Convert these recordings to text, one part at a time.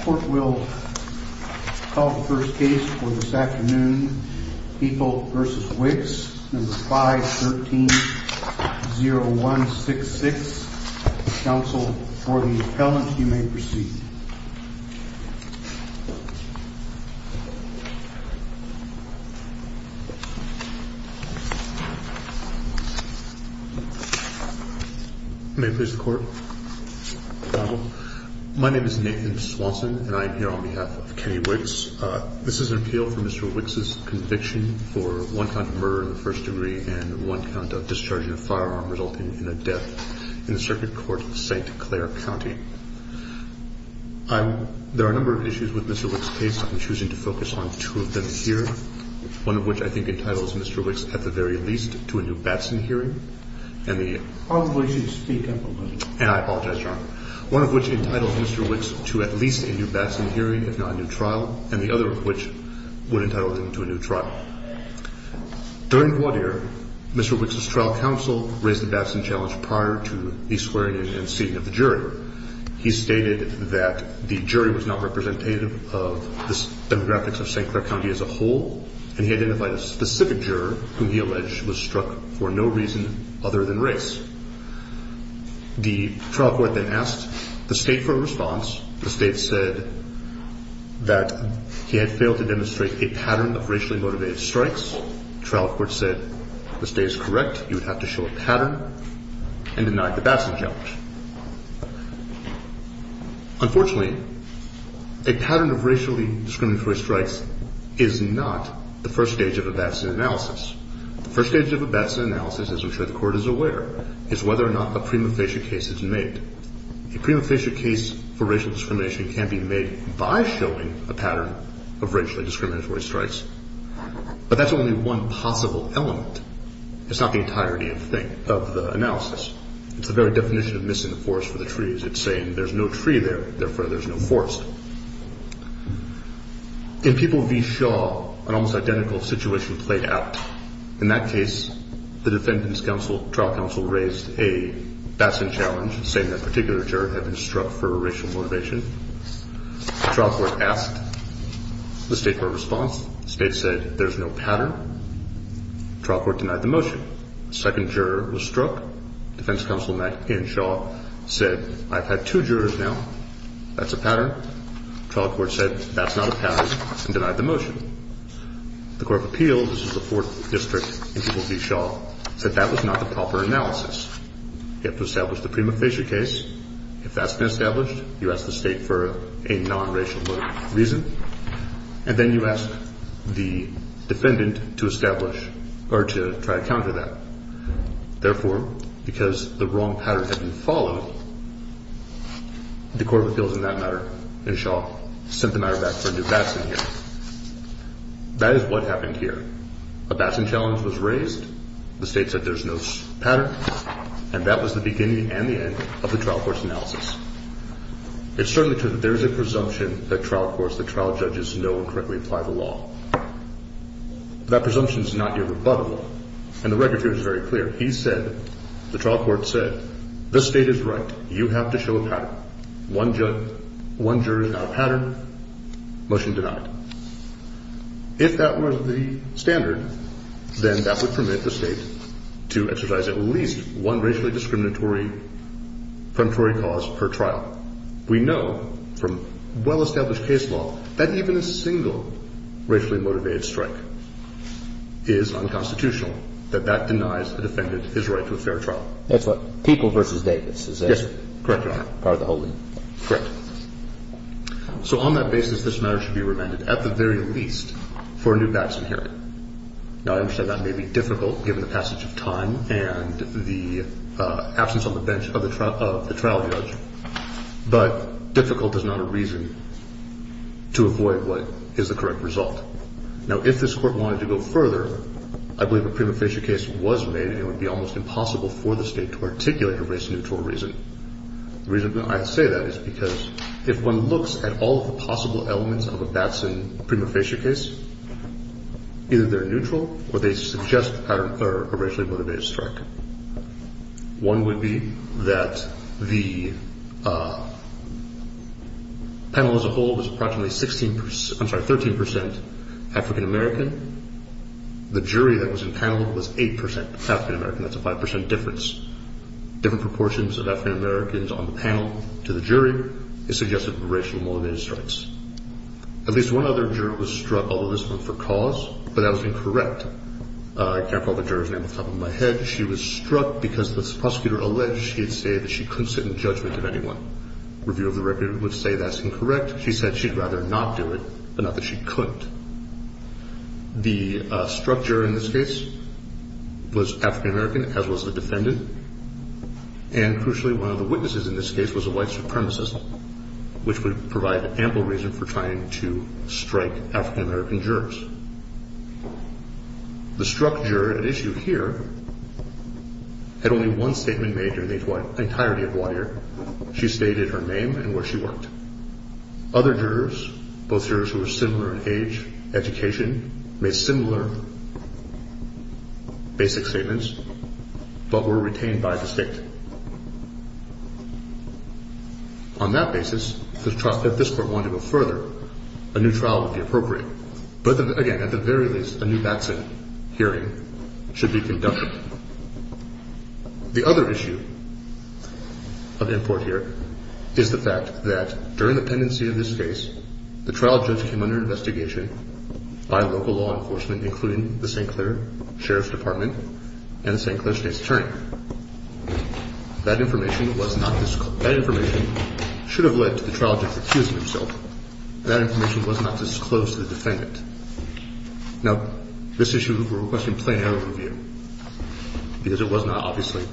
Court will call the first case for this afternoon, People v. Wicks, 513-0166, counsel for the first degree and one count of discharging a firearm resulting in a death in the Circuit Court of St. Clair County. There are a number of issues with Mr. Wicks' case. I'm choosing to focus on two of them here, one of which I think entitles Mr. Wicks at the very least to a new Batson hearing, and the other of which would entitle him to a new trial. During Gwadir, Mr. Wicks' trial counsel raised the Batson challenge prior to the swearing-in and seating of the jury. He stated that the jury was not representative of the demographics of St. Clair County as a whole, and he identified a specific juror whom he alleged was struck for no reason other than race. The trial court then asked the State for a response. The State said that he had failed to demonstrate a pattern of racially motivated strikes. The trial court said the State is correct. You would have to show a pattern and denied the Batson challenge. Unfortunately, a pattern of racially discriminatory strikes is not the first stage of a Batson analysis. The first stage of a Batson analysis, as I'm sure the Court is aware, is whether or not a prima facie case is made. A prima facie case for racial discrimination can be made by showing a pattern of racially discriminatory strikes, but that's only one possible element. It's not the entirety of the analysis. It's the very definition of missing the forest for the trees. It's saying there's no tree there, therefore there's no forest. In People v. Shaw, an almost identical situation played out. In that case, the defendant's trial counsel raised a Batson challenge, saying that a particular juror had been struck for racial motivation. The trial court asked the State for a response. The State said there's no pattern. The trial court denied the motion. The second juror was struck. The defense counsel in Shaw said, I've had two jurors now. That's a pattern. The trial court said that's not a pattern and denied the motion. The Court of Appeals, this is the fourth district in People v. Shaw, said that was not the proper analysis. You have to establish the prima facie case. If that's been established, you ask the State for a non-racial reason. And then you ask the defendant to establish or to try to counter that. Therefore, because the wrong pattern had been followed, the Court of Appeals in that matter in Shaw sent the matter back for a new Batson here. That is what happened here. A Batson challenge was raised. The State said there's no pattern. And that was the beginning and the end of the trial court's analysis. It's certainly true that there's a presumption that trial courts, that trial judges know and correctly apply the law. That presumption is not irrebuttable. And the record here is very clear. He said, the trial court said, the State is right. You have to show a pattern. One juror is not a pattern. Motion denied. If that were the standard, then that would permit the State to exercise at least one racially discriminatory cause per trial. We know from well-established case law that even a single racially motivated strike is unconstitutional, that that denies the defendant his right to a fair trial. That's what? People v. Davis? Yes. Correct, Your Honor. Part of the holding. Correct. So on that basis, this matter should be remanded at the very least for a new outcome and the absence on the bench of the trial judge. But difficult is not a reason to avoid what is the correct result. Now, if this Court wanted to go further, I believe a prima facie case was made, and it would be almost impossible for the State to articulate a race-neutral reason. The reason I say that is because if one looks at all the possible elements of a Batson prima facie case, either they're neutral or they suggest a racially motivated strike. One would be that the panel as a whole was approximately 13% African-American. The jury that was in panel was 8% African-American. That's a 5% difference. Different proportions of African-Americans on the panel to the jury is suggested for racially motivated strikes. At least one other juror was struck, although this one but that was incorrect. I can't recall the juror's name off the top of my head. She was struck because the prosecutor alleged she had said that she couldn't sit in judgment of anyone. Review of the record would say that's incorrect. She said she'd rather not do it, but not that she couldn't. The struck juror in this case was African-American, as was the defendant. And crucially, one of the witnesses in this case was a white supremacist, which would provide ample reason for trying to strike African-American jurors. The struck juror at issue here had only one statement made during the entirety of one year. She stated her name and where she worked. Other jurors, both jurors who were similar in age, education, made similar basic statements, but were retained by the state. On that basis, if this court wanted to go further, a new trial would be appropriate. But again, at the very least, a new Batson hearing should be conducted. The other issue of import here is the fact that during the pendency of this case, the trial judge came under investigation by local law enforcement, including the St. Clair Sheriff's Department and the St. Clair State's Attorney. That information should have led to the trial judge accusing himself. That information was not disclosed to the defendant. Now, this issue we're requesting plain error review, because it was not obviously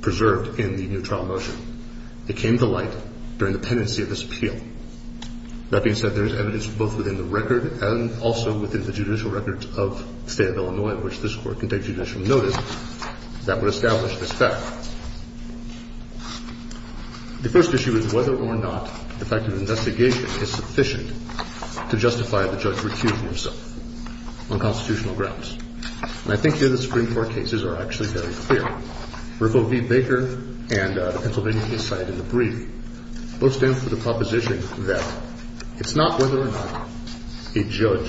preserved in the new trial motion. It came to light during the pendency of this appeal. That being said, there is evidence both within the record and also within the judicial records of the State of Illinois, which this Court can take judicial notice, that would establish this fact. The first issue is whether or not the fact of investigation is sufficient to justify the judge recusing himself on constitutional grounds. And I think here the Supreme Court cases are actually very clear. Riffo v. Baker and the Pennsylvania case cited in the brief both stand for the proposition that it's not whether or not a judge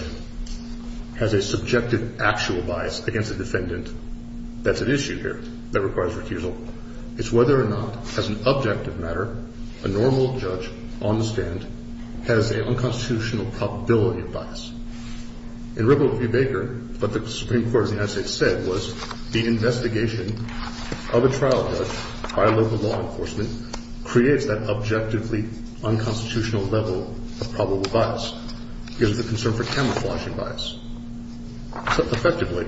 has a subjective actual bias against a defendant. That's an issue here that requires recusal. It's whether or not, as an objective matter, a normal judge on the stand has an unconstitutional probability of bias. In Riffo v. Baker, what the Supreme Court of the United States said was the investigation of a trial judge by local law enforcement creates that objectively unconstitutional level of probable bias because of the concern for camouflaging bias. Effectively,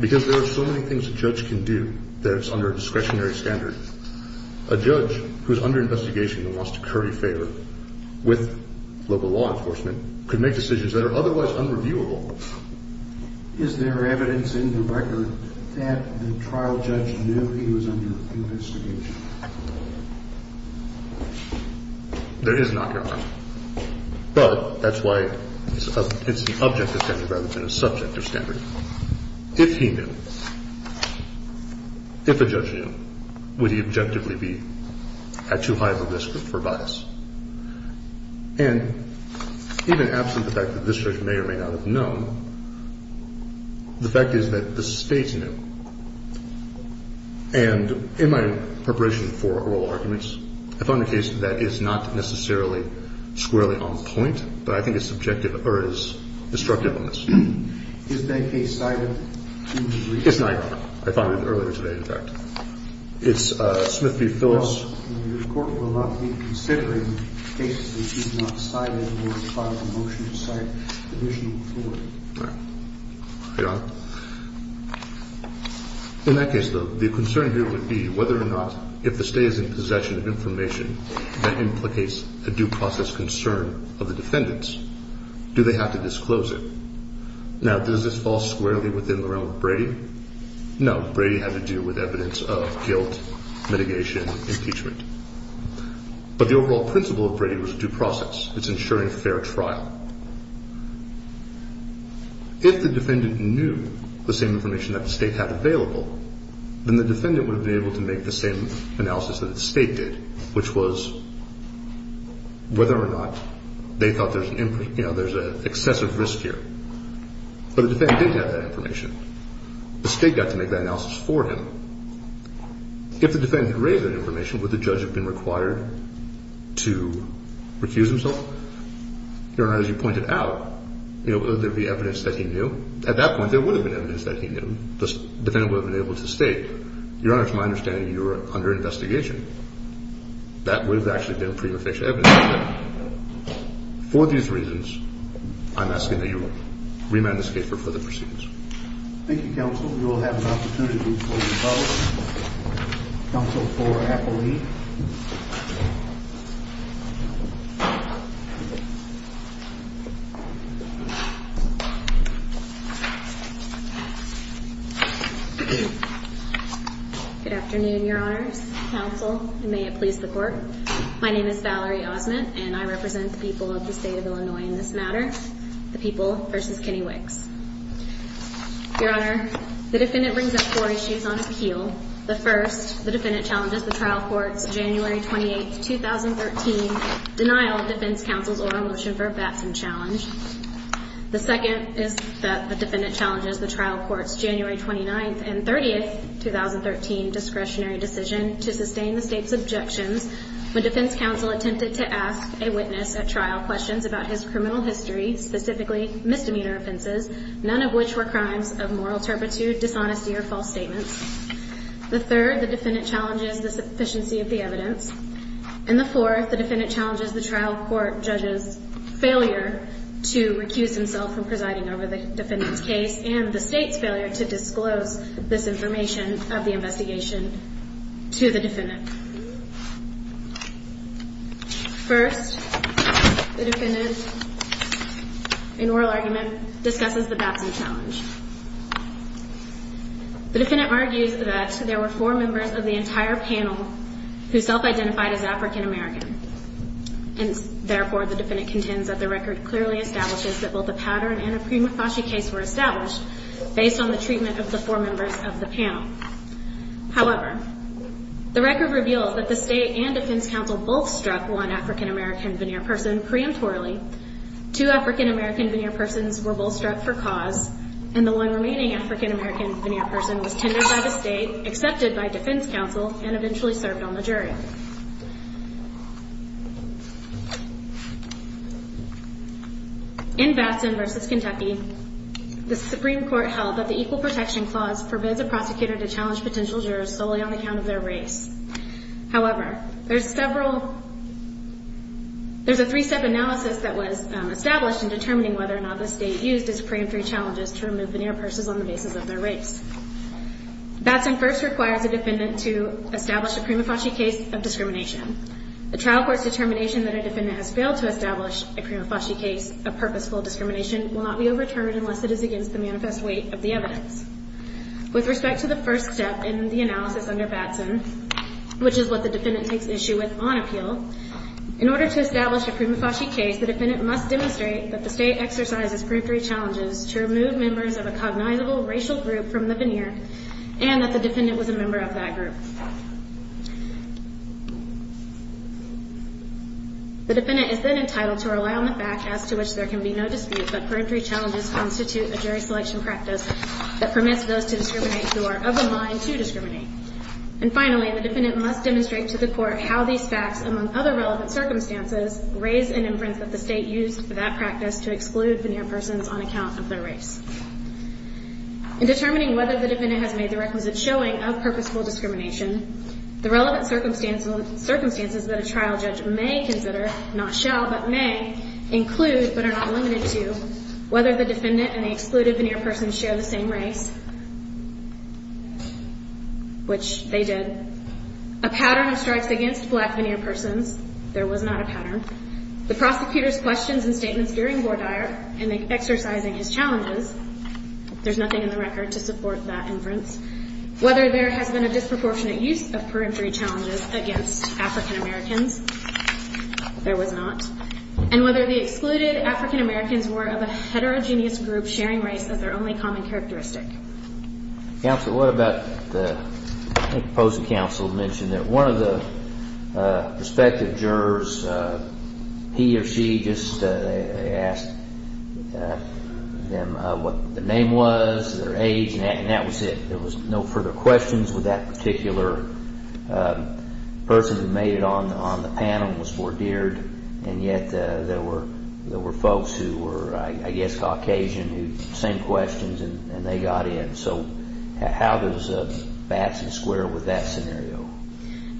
because there are so many things a judge can do that it's under a discretionary standard, a judge who is under investigation and wants to curry favor with local law enforcement could make decisions that are otherwise unreviewable. Is there evidence in the record that the trial judge knew he was under investigation? There is not, Your Honor. But that's why it's an objective standard rather than a subjective standard. If he knew, if a judge knew, would he objectively be at too high of a risk for bias? And even absent the fact that this judge may or may not have known, the fact is that the State's knew. And in my preparation for oral arguments, I found a case that is not necessarily squarely on point, but I think is subjective or is destructive on this. Is that case cited? It's not, Your Honor. I found it earlier today, in fact. It's Smith v. Phillips. Your Court will not be considering cases that you have not cited or filed a motion to cite additional authority. Right. Your Honor, in that case, though, the concern here would be whether or not if the State is in possession of information that implicates a due process concern of the defendants. Do they have to disclose it? Now, does this fall squarely within the realm of Brady? No. Brady had to do with evidence of guilt, mitigation, impeachment. But the overall principle of Brady was due process. It's ensuring fair trial. If the defendant knew the same information that the State had available, then the defendant would have been able to make the same analysis that the State did, which was whether or not they thought there's an excess of risk here. But the defendant didn't have that information. The State got to make that analysis for him. If the defendant had raised that information, would the judge have been required to refuse himself? Your Honor, as you pointed out, would there be evidence that he knew? At that point, there would have been evidence that he knew. The defendant would have been able to state, Your Honor, it's my understanding you were under investigation. That would have actually been a prima facie evidence. For these reasons, I'm asking that you remand the State for further proceedings. Thank you, Counsel. We will have an opportunity to move to the following. Counsel Flora Appleby. Good afternoon, Your Honors, Counsel, and may it please the Court. My name is Valerie Osment, and I represent the people of the State of Illinois in this matter, the people versus Kenny Wicks. Your Honor, the defendant brings up four issues on appeal. The first, the defendant challenges the trial court's January 28, 2013, denial of defense counsel's oral motion for a Batson challenge. The second is that the defendant challenges the trial court's January 29 and 30, 2013, discretionary decision to sustain the State's objections when defense counsel attempted to ask a witness at trial questions about his criminal history, specifically misdemeanor offenses, none of which were crimes of moral turpitude, dishonesty, or false statements. The third, the defendant challenges the sufficiency of the evidence. And the fourth, the defendant challenges the trial court judge's failure to recuse himself from presiding over the defendant's case and the State's failure to disclose this information of the investigation to the defendant. First, the defendant, in oral argument, discusses the Batson challenge. The defendant argues that there were four members of the entire panel who self-identified as African-American, and therefore the defendant contends that the record clearly establishes that both a powder and a prima facie case were established However, the record reveals that the State and defense counsel both struck one African-American veneer person preemptorily, two African-American veneer persons were both struck for cause, and the one remaining African-American veneer person was tendered by the State, accepted by defense counsel, and eventually served on the jury. In Batson v. Kentucky, the Supreme Court held that the Equal Protection Clause forbids a prosecutor to challenge potential jurors solely on account of their race. However, there's a three-step analysis that was established in determining whether or not the State used its preemptory challenges to remove veneer persons on the basis of their race. Batson first requires a defendant to establish a prima facie case of discrimination. The trial court's determination that a defendant has failed to establish a prima facie case of purposeful discrimination will not be overturned unless it is against the manifest weight of the evidence. With respect to the first step in the analysis under Batson, which is what the defendant takes issue with on appeal, in order to establish a prima facie case, the defendant must demonstrate that the State exercises preemptory challenges to remove members of a cognizable racial group from the veneer and that the defendant was a member of that group. The defendant is then entitled to rely on the fact as to which there can be no dispute that preemptory challenges constitute a jury selection practice that permits those to discriminate who are of the mind to discriminate. And finally, the defendant must demonstrate to the court how these facts, among other relevant circumstances, raise an inference that the State used for that practice to exclude veneer persons on account of their race. In determining whether the defendant has made the requisite showing of purposeful discrimination, the relevant circumstances that a trial judge may consider, not shall, but may, include, but are not limited to, whether the defendant and the excluded veneer person share the same race, which they did, a pattern of strikes against black veneer persons, there was not a pattern, the prosecutor's questions and statements during Bordier in exercising his challenges, there's nothing in the record to support that inference, whether there has been a disproportionate use of preemptory challenges against African Americans, there was not, and whether the excluded African Americans were of a heterogeneous group sharing race as their only common characteristic. Counsel, what about the, I think the opposing counsel mentioned that one of the prospective jurors, he or she just asked them what their name was, their age, and that was it. There was no further questions with that particular person who made it on the panel was Bordier, and yet there were folks who were, I guess, Caucasian, who sent questions and they got in. So how does Batson square with that scenario?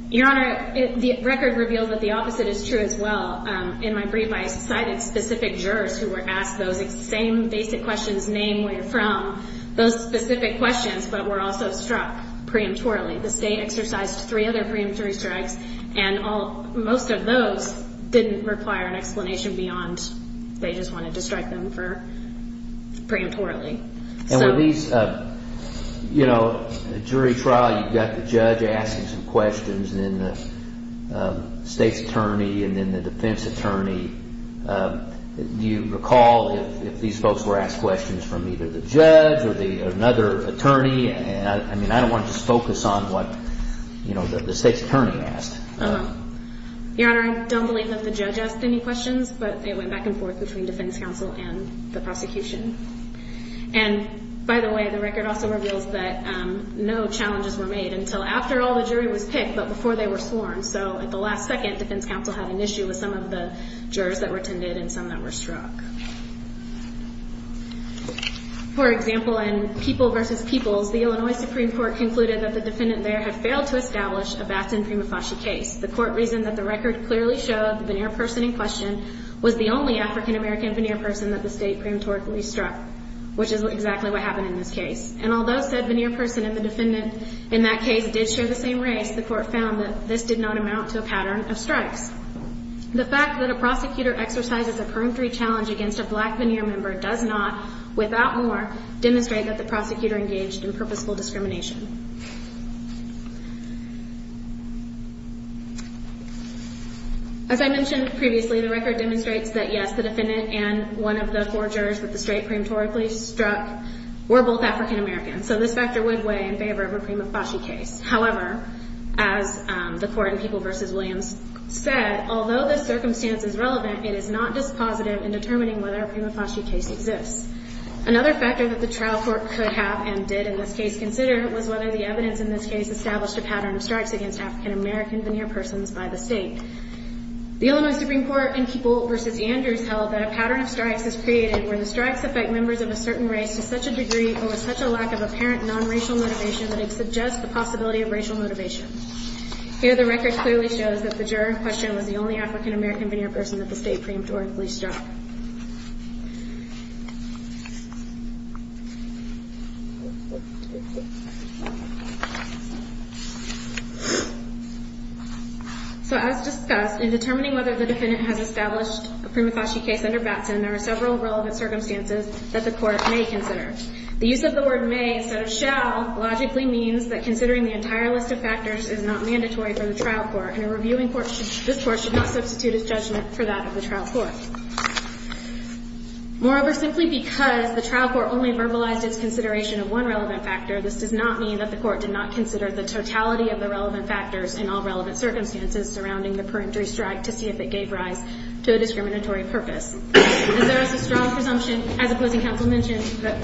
Your Honor, the record reveals that the opposite is true as well. In my brief, I cited specific jurors who were asked those same basic questions, name, where you're from, those specific questions, but were also struck preemptorily. The state exercised three other preemptory strikes, and most of those didn't require an explanation beyond they just wanted to strike them preemptorily. And were these, you know, a jury trial, you've got the judge asking some questions, and then the state's attorney, and then the defense attorney. Do you recall if these folks were asked questions from either the judge or another attorney? I mean, I don't want to just focus on what, you know, the state's attorney asked. Your Honor, I don't believe that the judge asked any questions, but they went back and forth between defense counsel and the prosecution. And, by the way, the record also reveals that no challenges were made until after all the jury was picked, but before they were sworn. So at the last second, defense counsel had an issue with some of the jurors that were attended and some that were struck. For example, in People v. Peoples, the Illinois Supreme Court concluded that the defendant there had failed to establish a Batson-Primafashi case. The court reasoned that the record clearly showed the veneer person in question was the only African-American veneer person that the state preemptorily struck, which is exactly what happened in this case. And although said veneer person and the defendant in that case did share the same race, the court found that this did not amount to a pattern of strikes. The fact that a prosecutor exercises a preemptory challenge against a defendant against a black veneer member does not, without more, demonstrate that the prosecutor engaged in purposeful discrimination. As I mentioned previously, the record demonstrates that, yes, the defendant and one of the four jurors that the state preemptorily struck were both African-Americans, so this factor would weigh in favor of a Primafashi case. However, as the court in People v. Williams said, although this circumstance is relevant, it is not dispositive in determining whether a Primafashi case exists. Another factor that the trial court could have and did in this case consider was whether the evidence in this case established a pattern of strikes against African-American veneer persons by the state. The Illinois Supreme Court in People v. Andrews held that a pattern of strikes is created where the strikes affect members of a certain race to such a degree or with such a lack of apparent nonracial motivation that it suggests the possibility of racial motivation. Here the record clearly shows that the juror in question was the only African-American veneer person that the state preemptorily struck. So as discussed, in determining whether the defendant has established a Primafashi case under Batson, there are several relevant circumstances that the court may consider. The use of the word may instead of shall logically means that considering the entire list of factors is not mandatory for the trial court and a reviewing court should not substitute its judgment for that of the trial court. Moreover, simply because the trial court only verbalized its consideration of one relevant factor, this does not mean that the court did not consider the totality of the relevant factors in all relevant circumstances surrounding the preemptory strike to see if it gave rise to a discriminatory purpose. As there is a strong presumption, as opposing counsel mentioned, that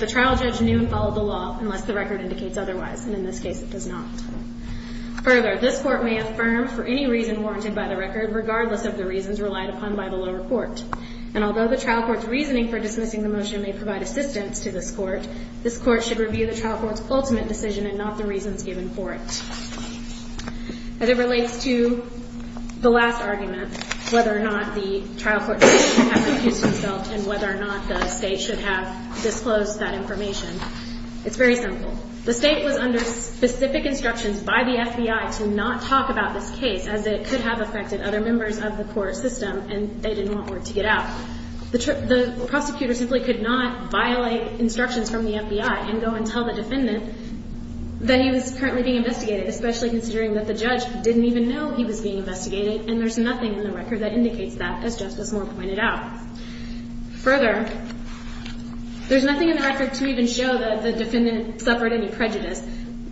the trial judge knew and followed the law unless the record indicates otherwise, and in this case it does not. Further, this court may affirm for any reason warranted by the record, regardless of the reasons relied upon by the lower court. And although the trial court's reasoning for dismissing the motion may provide assistance to this court, this court should review the trial court's ultimate decision and not the reasons given for it. As it relates to the last argument, whether or not the trial court's decision should have confused itself and whether or not the State should have disclosed that information, it's very simple. The State was under specific instructions by the FBI to not talk about this case as it could have affected other members of the court system and they didn't want word to get out. The prosecutor simply could not violate instructions from the FBI and go and tell the defendant that he was currently being investigated, especially considering that the judge didn't even know he was being investigated and there's nothing in the record that indicates that, as Justice Moore pointed out. Further, there's nothing in the record to even show that the defendant suffered any prejudice.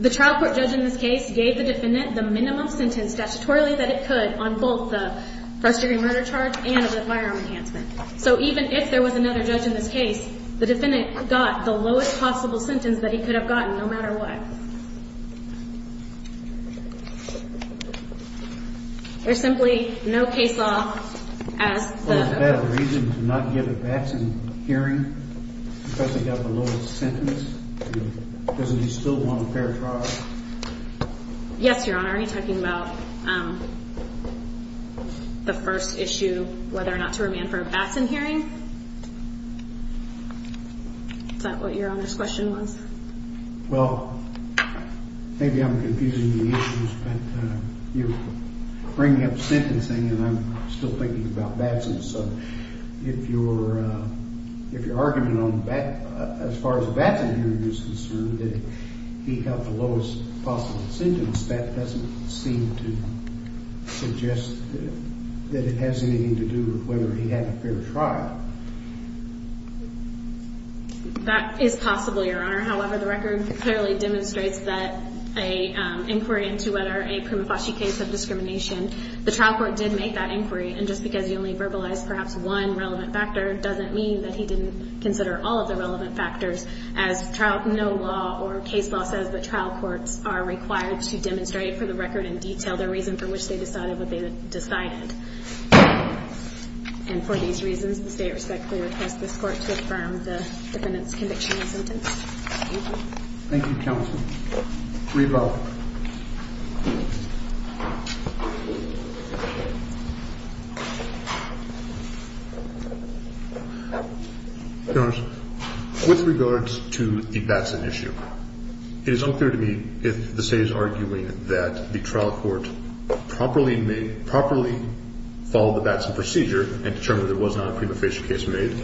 The trial court judge in this case gave the defendant the minimum sentence statutorily that it could on both the first-degree murder charge and the firearm enhancement. So even if there was another judge in this case, the defendant got the lowest possible sentence that he could have gotten no matter what. There's simply no case law as the... Well, is that a reason to not give a Batson hearing because he got the lowest sentence? Does he still want a fair trial? Yes, Your Honor. Are you talking about the first issue, whether or not to remand for a Batson hearing? Is that what Your Honor's question was? Well, maybe I'm confusing the issues, but you bring up sentencing and I'm still thinking about Batson. So if your argument as far as a Batson hearing is concerned that he got the lowest possible sentence, that doesn't seem to suggest that it has anything to do with whether he had a fair trial. That is possible, Your Honor. However, the record clearly demonstrates that an inquiry into whether a Primifaci case of discrimination, the trial court did make that inquiry. And just because you only verbalized perhaps one relevant factor doesn't mean that he didn't consider all of the relevant factors. As no law or case law says that trial courts are required to demonstrate for the record in detail the reason for which they decided what they decided. And for these reasons, the State respectfully requests this Court to affirm the defendant's conviction and sentence. Thank you. Thank you, Counsel. Rebell. Your Honor, with regards to the Batson issue, it is unclear to me if the State is arguing that the trial court properly made, properly followed the Batson procedure and determined there was not a Primifaci case made,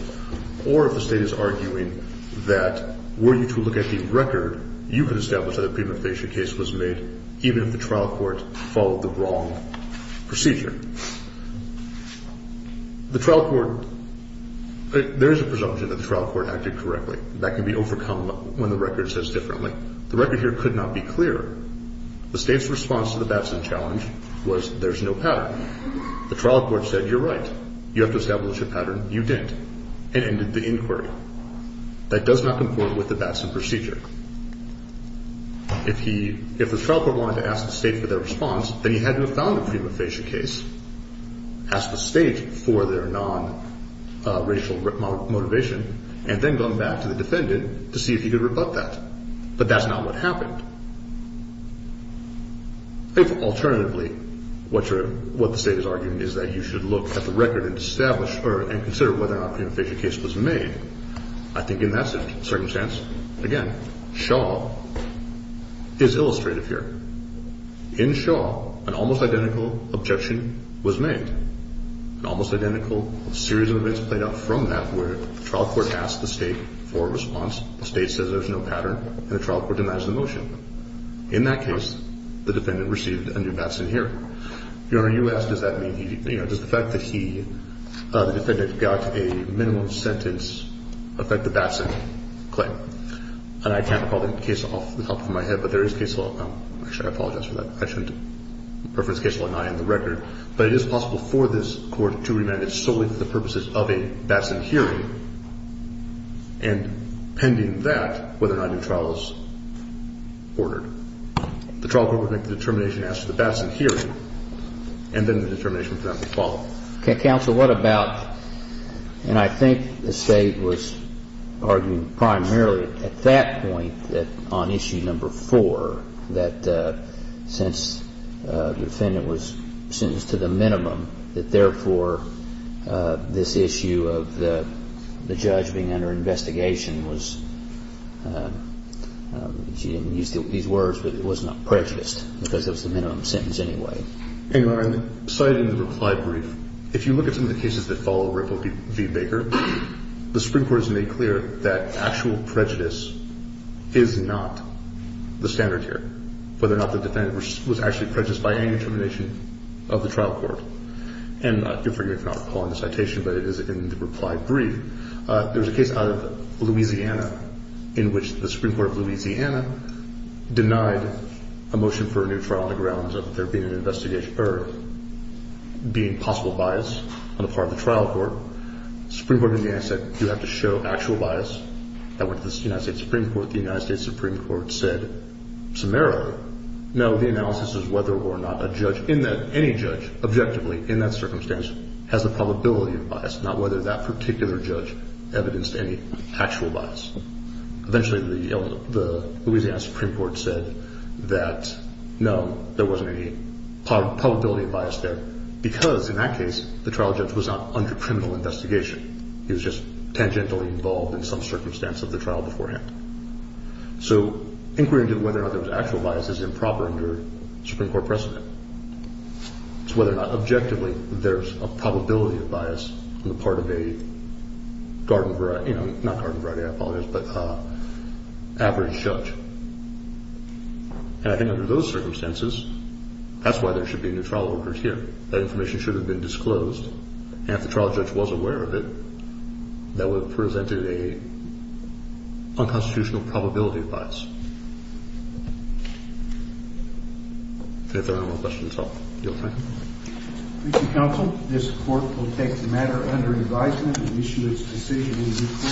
or if the State is arguing that were you to look at the record, you could establish that a Primifaci case was made even if the trial court followed the wrong procedure. The trial court, there is a presumption that the trial court acted correctly. That can be overcome when the record says differently. The record here could not be clearer. The State's response to the Batson challenge was there's no pattern. The trial court said you're right. You have to establish a pattern. You didn't. And ended the inquiry. That does not conform with the Batson procedure. If the trial court wanted to ask the State for their response, then he had to have found a Primifaci case, asked the State for their non-racial motivation, and then gone back to the defendant to see if he could rebut that. But that's not what happened. If, alternatively, what the State is arguing is that you should look at the record and consider whether or not a Primifaci case was made, I think in that circumstance, again, Shaw is illustrative here. In Shaw, an almost identical objection was made. An almost identical series of events played out from that where the trial court asked the State for a response, the State says there's no pattern, and the trial court denies the motion. In that case, the defendant received a new Batson hearing. Your Honor, you asked does that mean he, you know, does the fact that he, the defendant, got a minimum sentence affect the Batson claim? And I can't recall the case off the top of my head, but there is case law. Actually, I apologize for that. I shouldn't preference case law, not in the record. But it is possible for this Court to remand it solely for the purposes of a Batson hearing and, pending that, whether or not a new trial is ordered. The trial court would make the determination, ask for the Batson hearing, and then the determination would not be followed. Okay. Counsel, what about, and I think the State was arguing primarily at that point that on issue number 4, that since the defendant was sentenced to the minimum, that, therefore, this issue of the judge being under investigation was, she didn't use these words, but it was not prejudiced, because it was the minimum sentence anyway. Your Honor, cited in the reply brief, if you look at some of the cases that follow Ripple v. Baker, the Supreme Court has made clear that actual prejudice is not the standard here, whether or not the defendant was actually prejudiced by any determination of the trial court. And forgive me for not recalling the citation, but it is in the reply brief. There was a case out of Louisiana in which the Supreme Court of Louisiana denied a motion for a new trial on the grounds of there being an investigation or being possible bias on the part of the trial court. The Supreme Court of Louisiana said you have to show actual bias. That went to the United States Supreme Court. The United States Supreme Court said summarily, no, the analysis is whether or not a judge, any judge, objectively, in that circumstance, has the probability of bias, not whether that particular judge evidenced any actual bias. Eventually, the Louisiana Supreme Court said that, no, there wasn't any probability of bias there, because in that case the trial judge was not under criminal investigation. He was just tangentially involved in some circumstance of the trial beforehand. So inquiry into whether or not there was actual bias is improper under Supreme Court precedent. It's whether or not objectively there's a probability of bias on the part of a garden variety, not garden variety, I apologize, but average judge. And I think under those circumstances, that's why there should be new trial workers here. That information should have been disclosed. And if the trial judge was aware of it, that would have presented a unconstitutional probability of bias. If there are no more questions, I'll yield back. Thank you, counsel. This court will take the matter under advisement and issue its decision in due course.